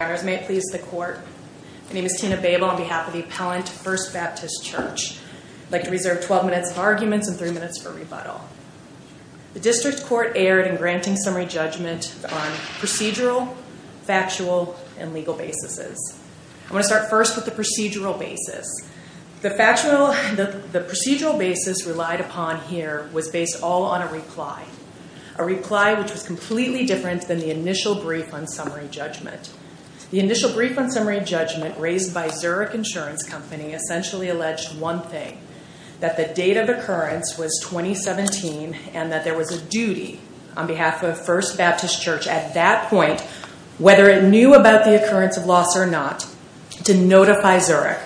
My name is Tina Babel on behalf of the Appellant First Baptist Church. I'd like to reserve 12 minutes of arguments and 3 minutes for rebuttal. The District Court erred in granting summary judgment on procedural, factual, and legal basis. I'm going to start first with the procedural basis. The procedural basis relied upon here was based all on a reply. A reply which was completely different than the initial brief on summary judgment. The initial brief on summary judgment raised by Zurich Insurance Company essentially alleged one thing. That the date of occurrence was 2017 and that there was a duty on behalf of First Baptist Church at that point, whether it knew about the occurrence of loss or not, to notify Zurich.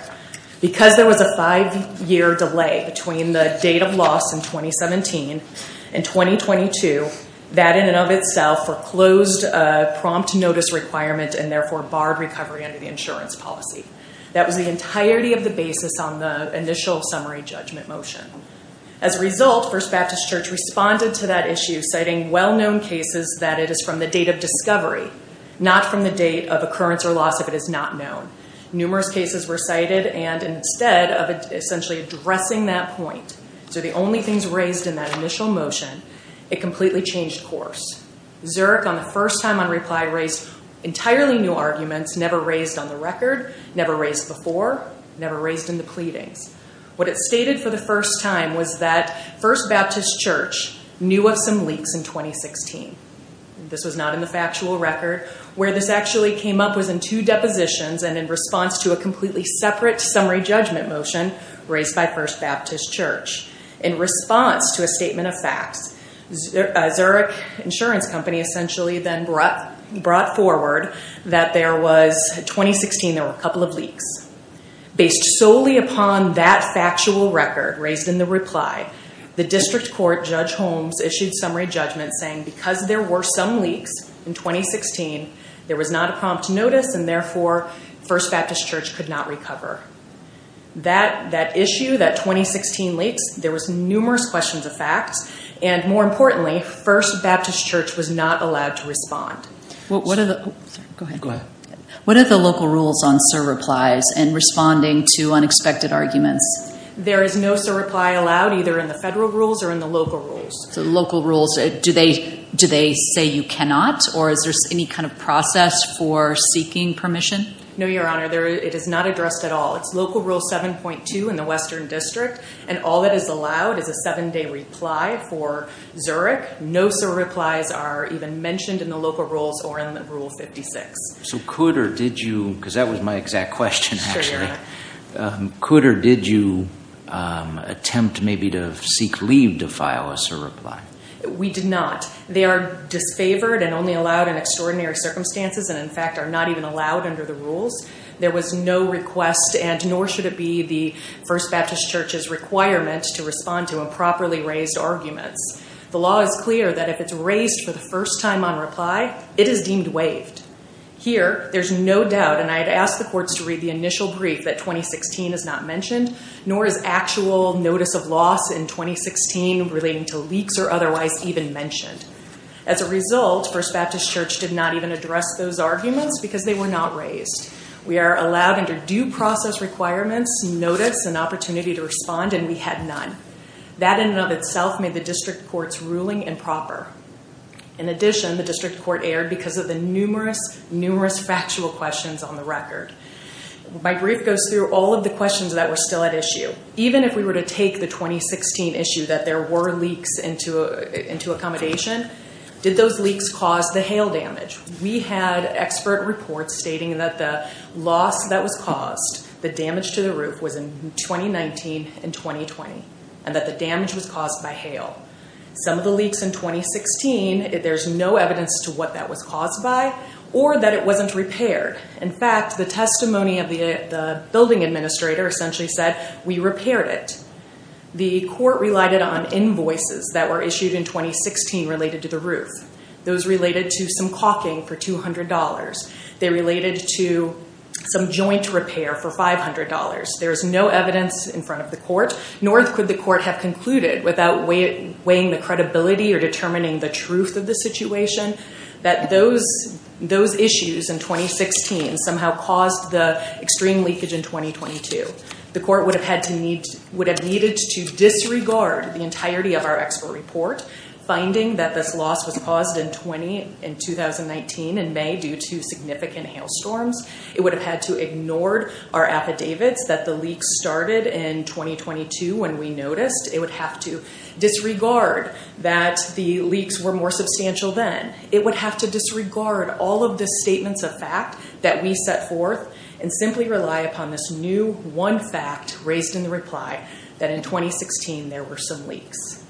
Because there was a five-year delay between the date of loss in 2017 and 2022, that in and of itself foreclosed a prompt notice requirement and therefore barred recovery under the insurance policy. That was the entirety of the basis on the initial summary judgment motion. As a result, First Baptist Church responded to that issue citing well-known cases that it is from the date of discovery, not from the date of occurrence or loss if it is not known. Numerous cases were cited and instead of essentially addressing that point, so the only things raised in that initial motion, it completely changed course. Zurich on the first time on reply raised entirely new arguments, never raised on the record, never raised before, never raised in the pleadings. What it stated for the first time was that First Baptist Church knew of some leaks in 2016. This was not in the factual record. Where this actually came up was in two depositions and in response to a completely separate summary judgment motion raised by First Baptist Church. In response to a statement of facts, Zurich Insurance Company essentially then brought forward that there was, in 2016, there were a couple of leaks. Based solely upon that factual record raised in the reply, the district court, Judge Holmes, issued summary judgment saying because there were some leaks in 2016, there was not a prompt notice and, therefore, First Baptist Church could not recover. That issue, that 2016 leaks, there was numerous questions of facts, and more importantly, First Baptist Church was not allowed to respond. What are the local rules on surreplies and responding to unexpected arguments? There is no surreply allowed either in the federal rules or in the local rules. The local rules, do they say you cannot, or is there any kind of process for seeking permission? No, Your Honor, it is not addressed at all. It's Local Rule 7.2 in the Western District, and all that is allowed is a seven-day reply for Zurich. No surreplies are even mentioned in the local rules or in Rule 56. So could or did you, because that was my exact question, actually. Sure, Your Honor. Could or did you attempt maybe to seek leave to file a surreply? We did not. They are disfavored and only allowed in extraordinary circumstances and, in fact, are not even allowed under the rules. There was no request, and nor should it be the First Baptist Church's requirement to respond to improperly raised arguments. The law is clear that if it's raised for the first time on reply, it is deemed waived. Here, there's no doubt, and I had asked the courts to read the initial brief that 2016 is not mentioned, nor is actual notice of loss in 2016 relating to leaks or otherwise even mentioned. As a result, First Baptist Church did not even address those arguments because they were not raised. We are allowed under due process requirements notice and opportunity to respond, and we had none. That in and of itself made the district court's ruling improper. In addition, the district court erred because of the numerous, numerous factual questions on the record. My brief goes through all of the questions that were still at issue. Even if we were to take the 2016 issue that there were leaks into accommodation, did those leaks cause the hail damage? We had expert reports stating that the loss that was caused, the damage to the roof, was in 2019 and 2020, and that the damage was caused by hail. Some of the leaks in 2016, there's no evidence to what that was caused by or that it wasn't repaired. In fact, the testimony of the building administrator essentially said, we repaired it. The court relied on invoices that were issued in 2016 related to the roof. Those related to some caulking for $200. They related to some joint repair for $500. There is no evidence in front of the court, nor could the court have concluded without weighing the credibility or determining the truth of the situation, that those issues in 2016 somehow caused the extreme leakage in 2022. The court would have needed to disregard the entirety of our expert report, finding that this loss was caused in 2019 in May due to significant hail storms. It would have had to ignored our affidavits that the leaks started in 2022 when we noticed. It would have to disregard that the leaks were more substantial then. It would have to disregard all of the statements of fact that we set forth and simply rely upon this new one fact raised in the reply that in 2016 there were some leaks.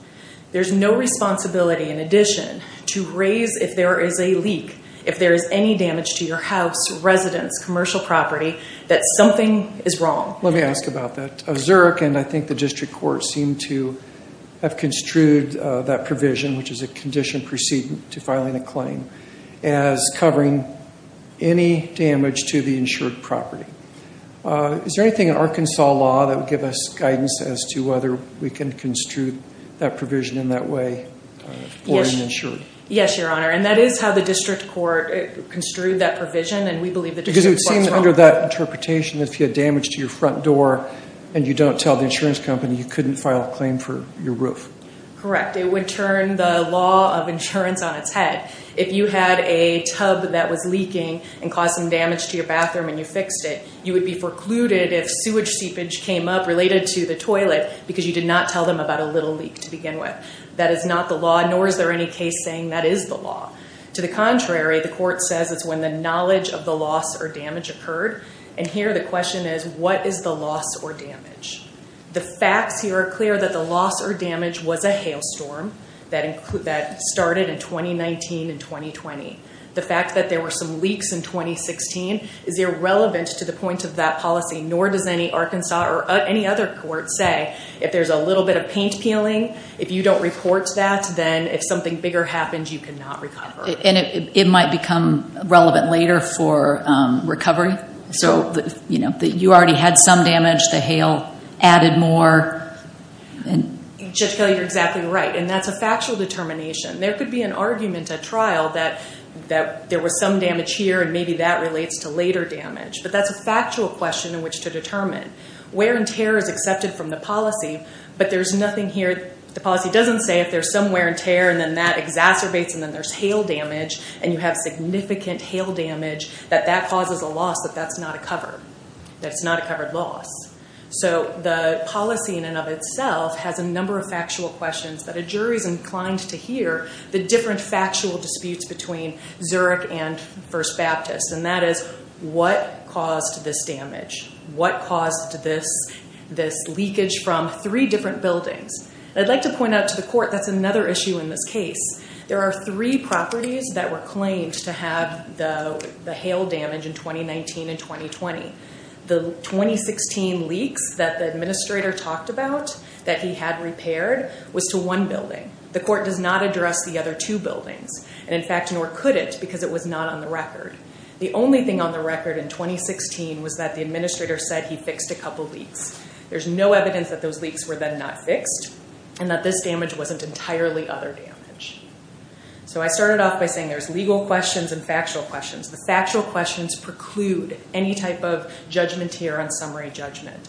There is no responsibility in addition to raise if there is a leak, if there is any damage to your house, residence, commercial property, that something is wrong. Let me ask about that. Zurich and I think the district court seem to have construed that provision, which is a condition proceeding to filing a claim, as covering any damage to the insured property. Is there anything in Arkansas law that would give us guidance as to whether we can construe that provision in that way for the insured? Yes, Your Honor, and that is how the district court construed that provision, and we believe the district court's wrong. Because it would seem under that interpretation that if you had damage to your front door and you don't tell the insurance company, you couldn't file a claim for your roof. Correct. It would turn the law of insurance on its head. If you had a tub that was leaking and caused some damage to your bathroom and you fixed it, you would be precluded if sewage seepage came up related to the toilet because you did not tell them about a little leak to begin with. That is not the law, nor is there any case saying that is the law. To the contrary, the court says it's when the knowledge of the loss or damage occurred, and here the question is what is the loss or damage? The facts here are clear that the loss or damage was a hailstorm that started in 2019 and 2020. The fact that there were some leaks in 2016 is irrelevant to the point of that policy, nor does any Arkansas or any other court say if there's a little bit of paint peeling, if you don't report that, then if something bigger happens, you cannot recover. And it might become relevant later for recovery? So you already had some damage, the hail added more. Judge Kelley, you're exactly right, and that's a factual determination. There could be an argument at trial that there was some damage here and maybe that relates to later damage, but that's a factual question in which to determine. Wear and tear is accepted from the policy, but there's nothing here. The policy doesn't say if there's some wear and tear and then that exacerbates and then there's hail damage and you have significant hail damage, that that causes a loss, that that's not a covered loss. So the policy in and of itself has a number of factual questions that a jury's inclined to hear, the different factual disputes between Zurich and First Baptist, and that is what caused this damage? What caused this leakage from three different buildings? I'd like to point out to the court that's another issue in this case. There are three properties that were claimed to have the hail damage in 2019 and 2020. The 2016 leaks that the administrator talked about that he had repaired was to one building. The court does not address the other two buildings, and in fact, nor could it because it was not on the record. The only thing on the record in 2016 was that the administrator said he fixed a couple leaks. There's no evidence that those leaks were then not fixed and that this damage wasn't entirely other damage. So I started off by saying there's legal questions and factual questions. The factual questions preclude any type of judgment here on summary judgment.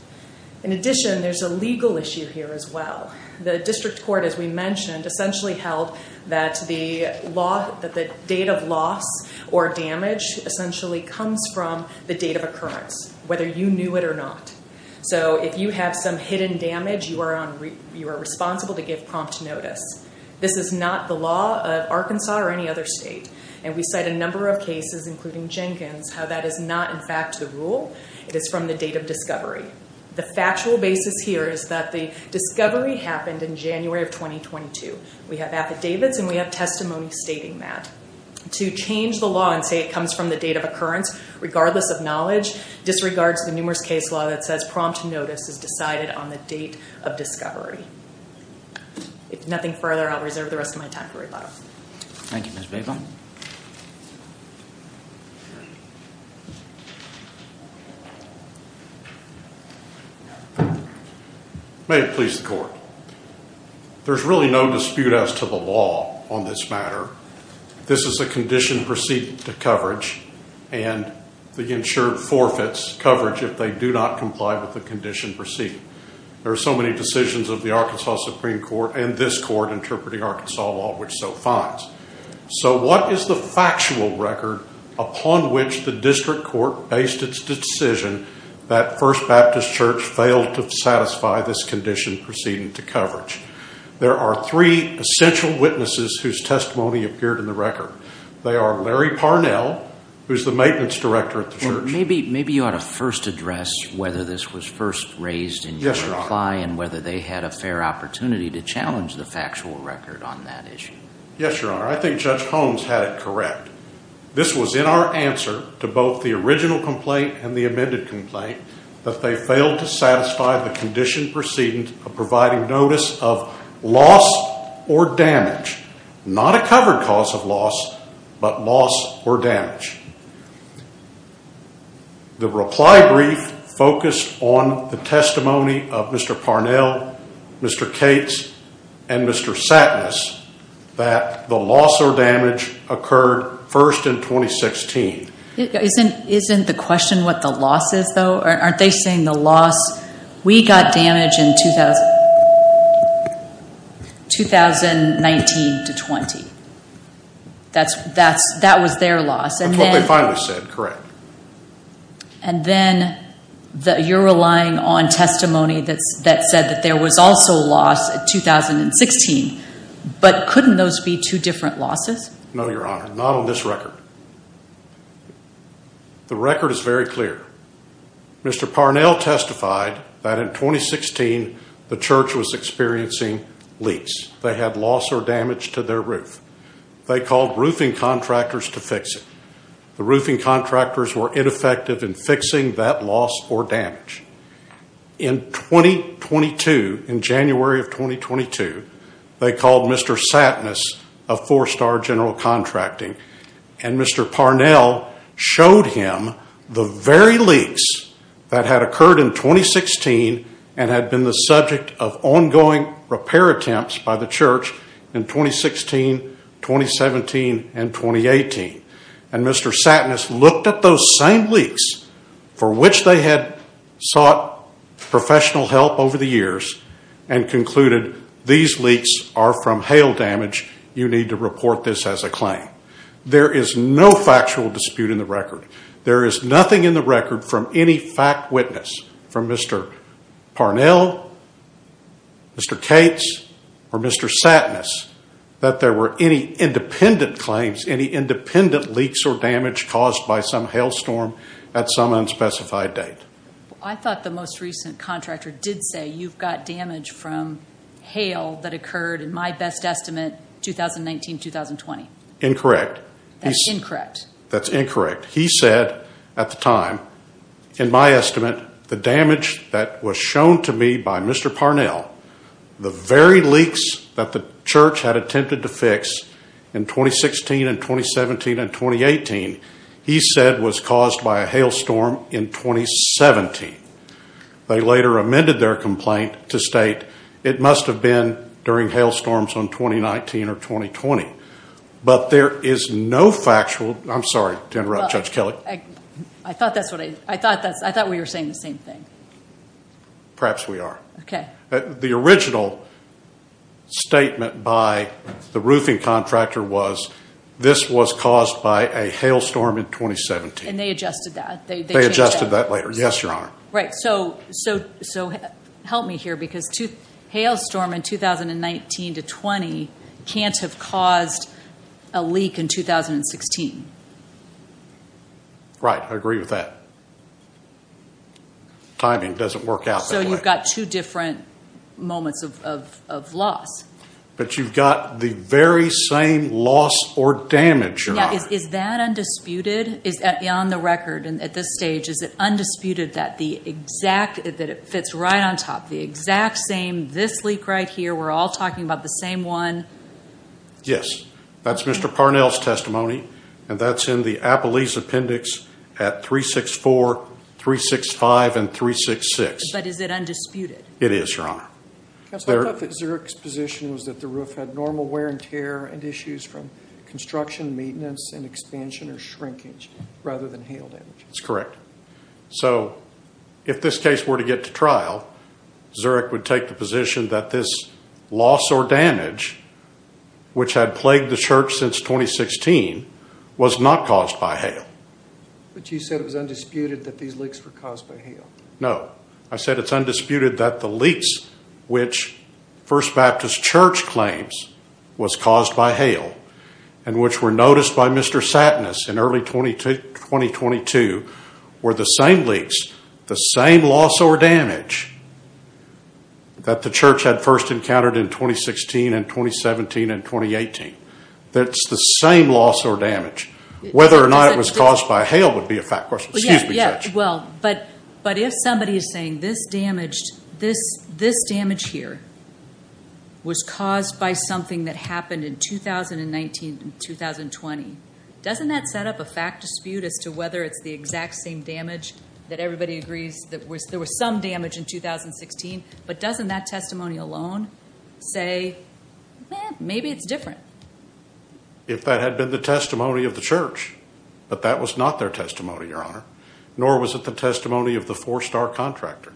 In addition, there's a legal issue here as well. The district court, as we mentioned, essentially held that the date of loss or damage essentially comes from the date of occurrence, whether you knew it or not. So if you have some hidden damage, you are responsible to give prompt notice. This is not the law of Arkansas or any other state, and we cite a number of cases, including Jenkins, how that is not in fact the rule. It is from the date of discovery. The factual basis here is that the discovery happened in January of 2022. We have affidavits and we have testimony stating that. To change the law and say it comes from the date of occurrence, regardless of knowledge, disregards the numerous case law that says prompt notice is decided on the date of discovery. If nothing further, I'll reserve the rest of my time for rebuttal. Thank you, Ms. Babel. May it please the court. There's really no dispute as to the law on this matter. This is a condition proceeding to coverage, and the insured forfeits coverage if they do not comply with the condition proceeding. There are so many decisions of the Arkansas Supreme Court and this court interpreting Arkansas law, which so finds. So what is the factual record upon which the district court based its decision that First Baptist Church failed to satisfy this condition proceeding to coverage? There are three essential witnesses whose testimony appeared in the record. They are Larry Parnell, who is the maintenance director at the church. Maybe you ought to first address whether this was first raised in your reply and whether they had a fair opportunity to challenge the factual record on that issue. Yes, Your Honor. I think Judge Holmes had it correct. This was in our answer to both the original complaint and the amended complaint that they failed to satisfy the condition proceeding of providing notice of loss or damage. Not a covered cause of loss, but loss or damage. The reply brief focused on the testimony of Mr. Parnell, Mr. Cates, and Mr. Satnas that the loss or damage occurred first in 2016. Isn't the question what the loss is, though? Aren't they saying the loss? We got damage in 2019 to 20. That was their loss. That's what they finally said, correct. And then you're relying on testimony that said that there was also loss in 2016, but couldn't those be two different losses? No, Your Honor, not on this record. The record is very clear. Mr. Parnell testified that in 2016 the church was experiencing leaks. They had loss or damage to their roof. They called roofing contractors to fix it. The roofing contractors were ineffective in fixing that loss or damage. In 2022, in January of 2022, they called Mr. Satnas of Four Star General Contracting, and Mr. Parnell showed him the very leaks that had occurred in 2016 and had been the subject of ongoing repair attempts by the church in 2016, 2017, and 2018. And Mr. Satnas looked at those same leaks for which they had sought professional help over the years and concluded these leaks are from hail damage. You need to report this as a claim. There is no factual dispute in the record. There is nothing in the record from any fact witness from Mr. Parnell, Mr. Cates, or Mr. Satnas that there were any independent claims, any independent leaks or damage caused by some hail storm at some unspecified date. I thought the most recent contractor did say you've got damage from hail that occurred, in my best estimate, 2019, 2020. Incorrect. That's incorrect? That's incorrect. He said at the time, in my estimate, the damage that was shown to me by Mr. Parnell, the very leaks that the church had attempted to fix in 2016 and 2017 and 2018, he said was caused by a hail storm in 2017. They later amended their complaint to state it must have been during hail storms in 2019 or 2020. But there is no factual. I'm sorry to interrupt, Judge Kelley. I thought we were saying the same thing. Perhaps we are. Okay. The original statement by the roofing contractor was this was caused by a hail storm in 2017. And they adjusted that. They adjusted that later. Yes, Your Honor. Right. So help me here because hail storm in 2019 to 2020 can't have caused a leak in 2016. Right. I agree with that. Timing doesn't work out that way. So you've got two different moments of loss. But you've got the very same loss or damage, Your Honor. Is that undisputed? Is that beyond the record at this stage? Is it undisputed that the exact, that it fits right on top, the exact same, this leak right here. We're all talking about the same one. Yes. That's Mr. Parnell's testimony. And that's in the Appalachian appendix at 364, 365, and 366. But is it undisputed? It is, Your Honor. Counselor, I thought that Zurich's position was that the roof had normal wear and tear and issues from construction, maintenance, and expansion or shrinkage rather than hail damage. That's correct. So if this case were to get to trial, Zurich would take the position that this loss or damage, which had plagued the church since 2016, was not caused by hail. But you said it was undisputed that these leaks were caused by hail. No. I said it's undisputed that the leaks which First Baptist Church claims was caused by hail and which were noticed by Mr. Satinus in early 2022 were the same leaks, the same loss or damage that the church had first encountered in 2016 and 2017 and 2018. That's the same loss or damage. Whether or not it was caused by hail would be a fact question. Excuse me, Judge. Well, but if somebody is saying this damage here was caused by something that happened in 2019 and 2020, doesn't that set up a fact dispute as to whether it's the exact same damage that everybody agrees that there was some damage in 2016? But doesn't that testimony alone say, maybe it's different? If that had been the testimony of the church, but that was not their testimony, Your Honor, nor was it the testimony of the four-star contractor,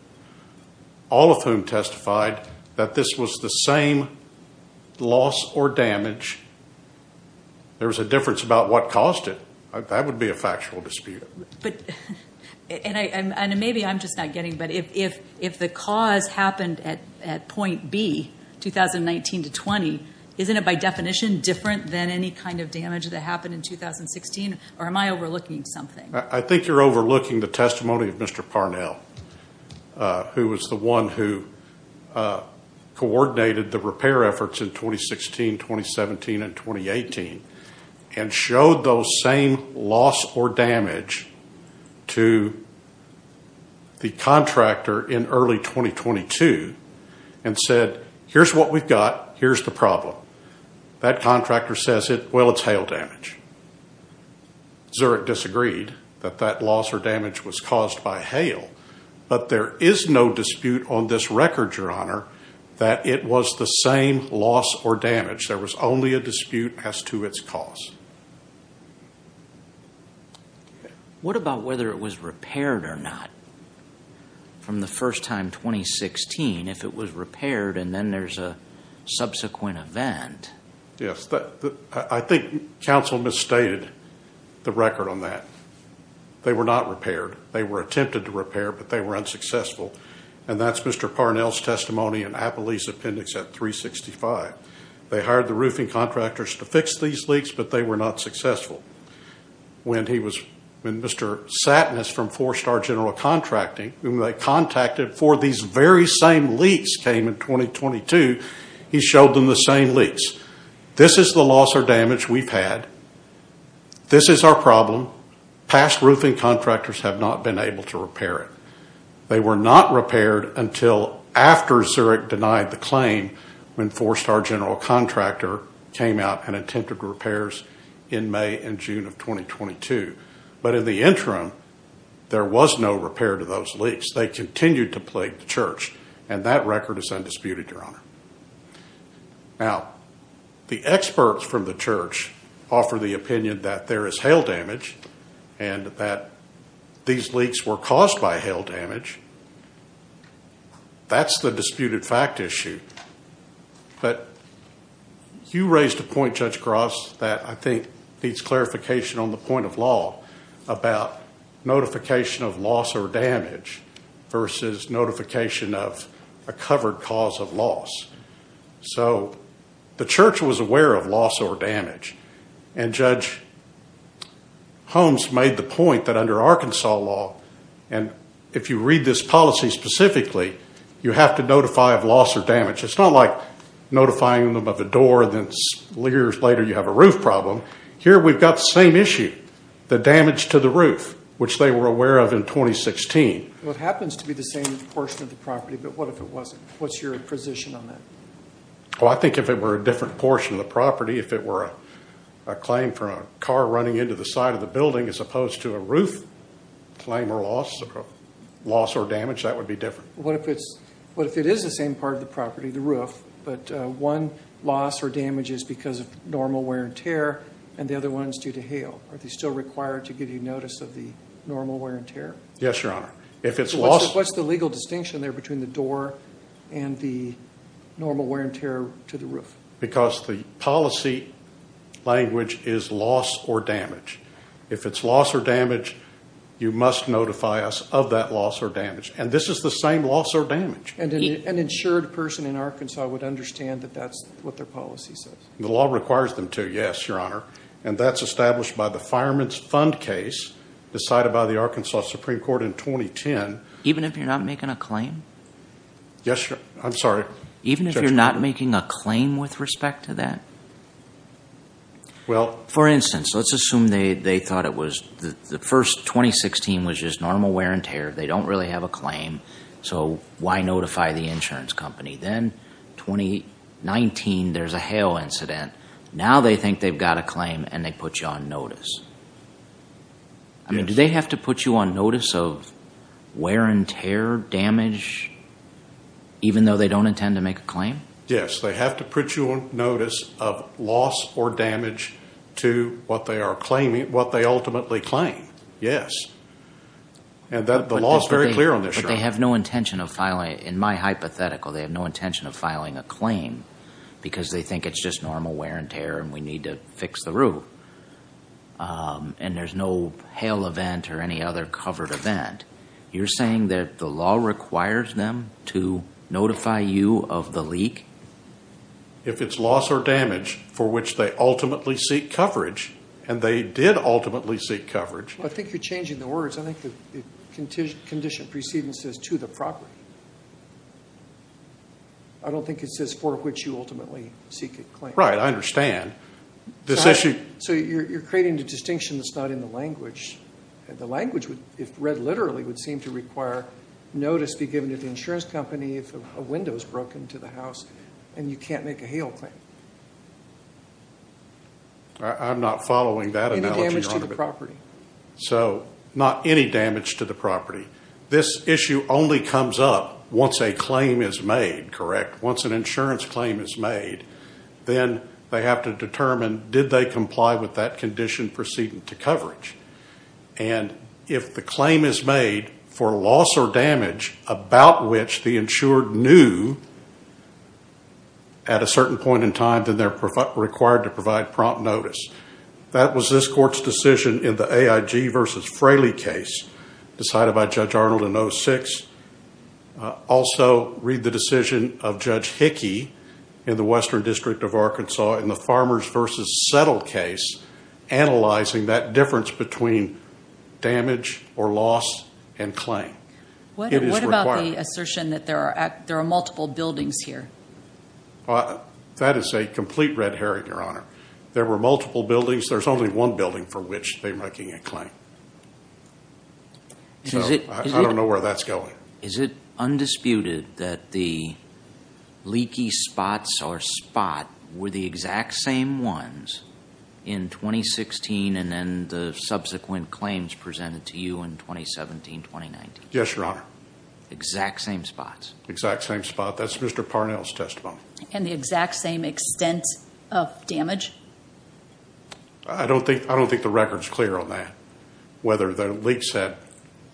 all of whom testified that this was the same loss or damage, there was a difference about what caused it. That would be a factual dispute. And maybe I'm just not getting, but if the cause happened at point B, 2019 to 20, isn't it by definition different than any kind of damage that happened in 2016? Or am I overlooking something? I think you're overlooking the testimony of Mr. Parnell, who was the one who coordinated the repair efforts in 2016, 2017, and 2018, and showed those same loss or damage to the contractor in early 2022 and said, here's what we've got, here's the problem. That contractor says, well, it's hail damage. Zurich disagreed that that loss or damage was caused by hail, but there is no dispute on this record, Your Honor, that it was the same loss or damage. There was only a dispute as to its cause. What about whether it was repaired or not from the first time, 2016, if it was repaired and then there's a subsequent event? Yes. I think counsel misstated the record on that. They were not repaired. They were attempted to repair, but they were unsuccessful. And that's Mr. Parnell's testimony in Appalachia Appendix at 365. They hired the roofing contractors to fix these leaks, but they were not successful. When Mr. Satinas from Four Star General Contracting, whom they contacted for these very same leaks, came in 2022, he showed them the same leaks. This is the loss or damage we've had. This is our problem. Past roofing contractors have not been able to repair it. They were not repaired until after Zurich denied the claim when Four Star General Contractor came out and attempted repairs in May and June of 2022. But in the interim, there was no repair to those leaks. They continued to plague the church, and that record is undisputed, Your Honor. Now, the experts from the church offer the opinion that there is hail damage and that these leaks were caused by hail damage. That's the disputed fact issue. But you raised a point, Judge Gross, that I think needs clarification on the point of law about notification of loss or damage versus notification of a covered cause of loss. So the church was aware of loss or damage, and Judge Holmes made the point that under Arkansas law, and if you read this policy specifically, you have to notify of loss or damage. It's not like notifying them of a door and then years later you have a roof problem. Here we've got the same issue. The damage to the roof, which they were aware of in 2016. Well, it happens to be the same portion of the property, but what if it wasn't? What's your position on that? Well, I think if it were a different portion of the property, if it were a claim from a car running into the side of the building as opposed to a roof claim or loss, loss or damage, that would be different. What if it is the same part of the property, the roof, but one loss or damage is because of normal wear and tear, and the other one is due to hail? Are they still required to give you notice of the normal wear and tear? Yes, Your Honor. What's the legal distinction there between the door and the normal wear and tear to the roof? Because the policy language is loss or damage. If it's loss or damage, you must notify us of that loss or damage. And this is the same loss or damage. And an insured person in Arkansas would understand that that's what their policy says. The law requires them to, yes, Your Honor, and that's established by the Fireman's Fund case decided by the Arkansas Supreme Court in 2010. Even if you're not making a claim? Yes, Your Honor. I'm sorry. Even if you're not making a claim with respect to that? For instance, let's assume they thought it was the first 2016 was just normal wear and tear. They don't really have a claim, so why notify the insurance company? Then 2019, there's a hail incident. Now they think they've got a claim, and they put you on notice. I mean, do they have to put you on notice of wear and tear damage even though they don't intend to make a claim? Yes, they have to put you on notice of loss or damage to what they are claiming, what they ultimately claim, yes. And the law is very clear on this, Your Honor. But they have no intention of filing, in my hypothetical, they have no intention of filing a claim because they think it's just normal wear and tear and we need to fix the root. And there's no hail event or any other covered event. You're saying that the law requires them to notify you of the leak? If it's loss or damage for which they ultimately seek coverage, and they did ultimately seek coverage. I think you're changing the words. I think the condition preceding says to the property. I don't think it says for which you ultimately seek a claim. Right, I understand. So you're creating a distinction that's not in the language. The language, if read literally, would seem to require notice be given to the insurance company if a window is broken to the house and you can't make a hail claim. I'm not following that analogy, Your Honor. So not any damage to the property. This issue only comes up once a claim is made, correct? Once an insurance claim is made. Then they have to determine did they comply with that condition proceeding to coverage. And if the claim is made for loss or damage about which the insured knew at a certain point in time, then they're required to provide prompt notice. That was this court's decision in the AIG v. Fraley case decided by Judge Arnold in 06. Also read the decision of Judge Hickey in the Western District of Arkansas in the Farmers v. Settle case analyzing that difference between damage or loss and claim. What about the assertion that there are multiple buildings here? That is a complete red herring, Your Honor. There were multiple buildings. There's only one building for which they're making a claim. I don't know where that's going. Is it undisputed that the leaky spots or spot were the exact same ones in 2016 and then the subsequent claims presented to you in 2017-2019? Yes, Your Honor. Exact same spots? Exact same spot. That's Mr. Parnell's testimony. And the exact same extent of damage? I don't think the record's clear on that, whether the leak set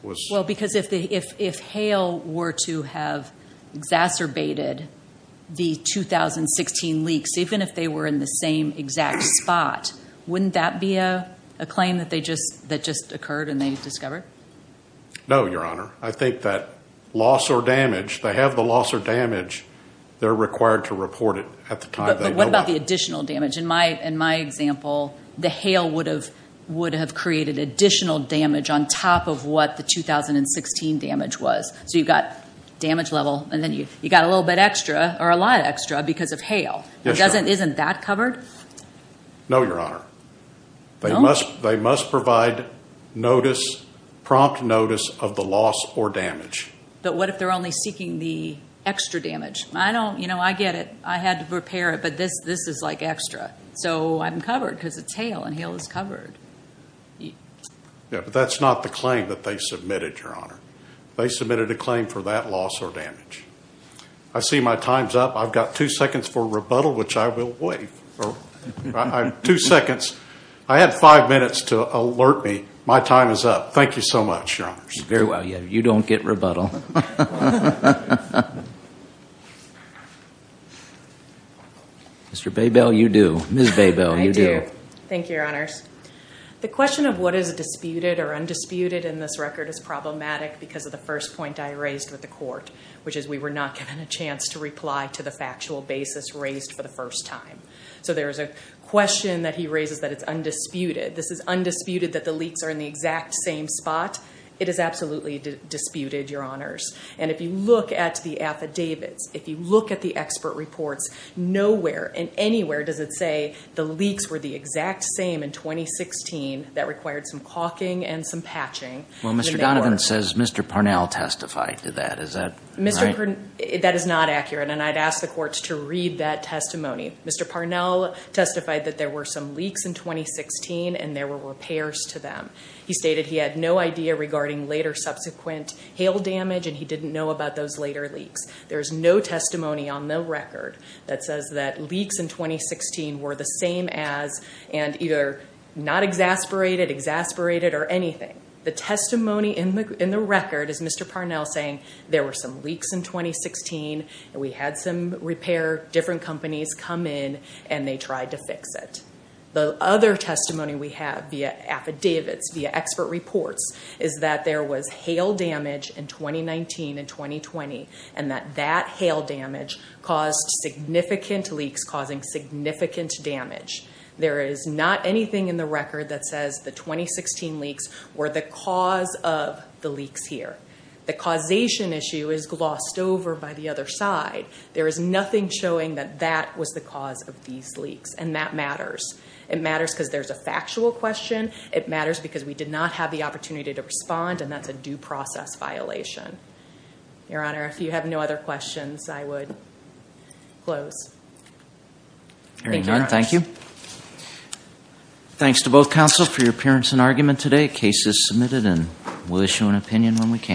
was... Well, because if Hale were to have exacerbated the 2016 leaks, even if they were in the same exact spot, wouldn't that be a claim that just occurred and they discovered? No, Your Honor. I think that loss or damage, they have the loss or damage. They're required to report it at the time. But what about the additional damage? In my example, the Hale would have created additional damage on top of what the 2016 damage was. So you've got damage level and then you've got a little bit extra or a lot extra because of Hale. Isn't that covered? No, Your Honor. They must provide notice, prompt notice of the loss or damage. But what if they're only seeking the extra damage? I get it. I had to prepare it, but this is like extra. So I'm covered because it's Hale and Hale is covered. Yeah, but that's not the claim that they submitted, Your Honor. They submitted a claim for that loss or damage. I see my time's up. I've got two seconds for rebuttal, which I will waive. Two seconds. I had five minutes to alert me. My time is up. Thank you so much, Your Honors. Very well. You don't get rebuttal. Mr. Baybell, you do. Ms. Baybell, you do. I do. Thank you, Your Honors. The question of what is disputed or undisputed in this record is problematic because of the first point I raised with the court, which is we were not given a chance to reply to the factual basis raised for the first time. So there is a question that he raises that it's undisputed. This is undisputed that the leaks are in the exact same spot. It is absolutely disputed, Your Honors. And if you look at the affidavits, if you look at the expert reports, nowhere and anywhere does it say the leaks were the exact same in 2016 that required some caulking and some patching. Well, Mr. Donovan says Mr. Parnell testified to that. Is that right? That is not accurate, and I'd ask the courts to read that testimony. Mr. Parnell testified that there were some leaks in 2016 and there were repairs to them. He stated he had no idea regarding later subsequent hail damage, and he didn't know about those later leaks. There is no testimony on the record that says that leaks in 2016 were the same as and either not exasperated, exasperated, or anything. The testimony in the record is Mr. Parnell saying there were some leaks in 2016, and we had some repair, different companies come in, and they tried to fix it. The other testimony we have via affidavits, via expert reports, is that there was hail damage in 2019 and 2020, and that that hail damage caused significant leaks causing significant damage. There is not anything in the record that says the 2016 leaks were the cause of the leaks here. The causation issue is glossed over by the other side. There is nothing showing that that was the cause of these leaks, and that matters. It matters because there's a factual question. It matters because we did not have the opportunity to respond, and that's a due process violation. Your Honor, if you have no other questions, I would close. Thank you, Your Honor. Thank you. Thanks to both counsel for your appearance and argument today. The case is submitted, and we'll issue an opinion when we can.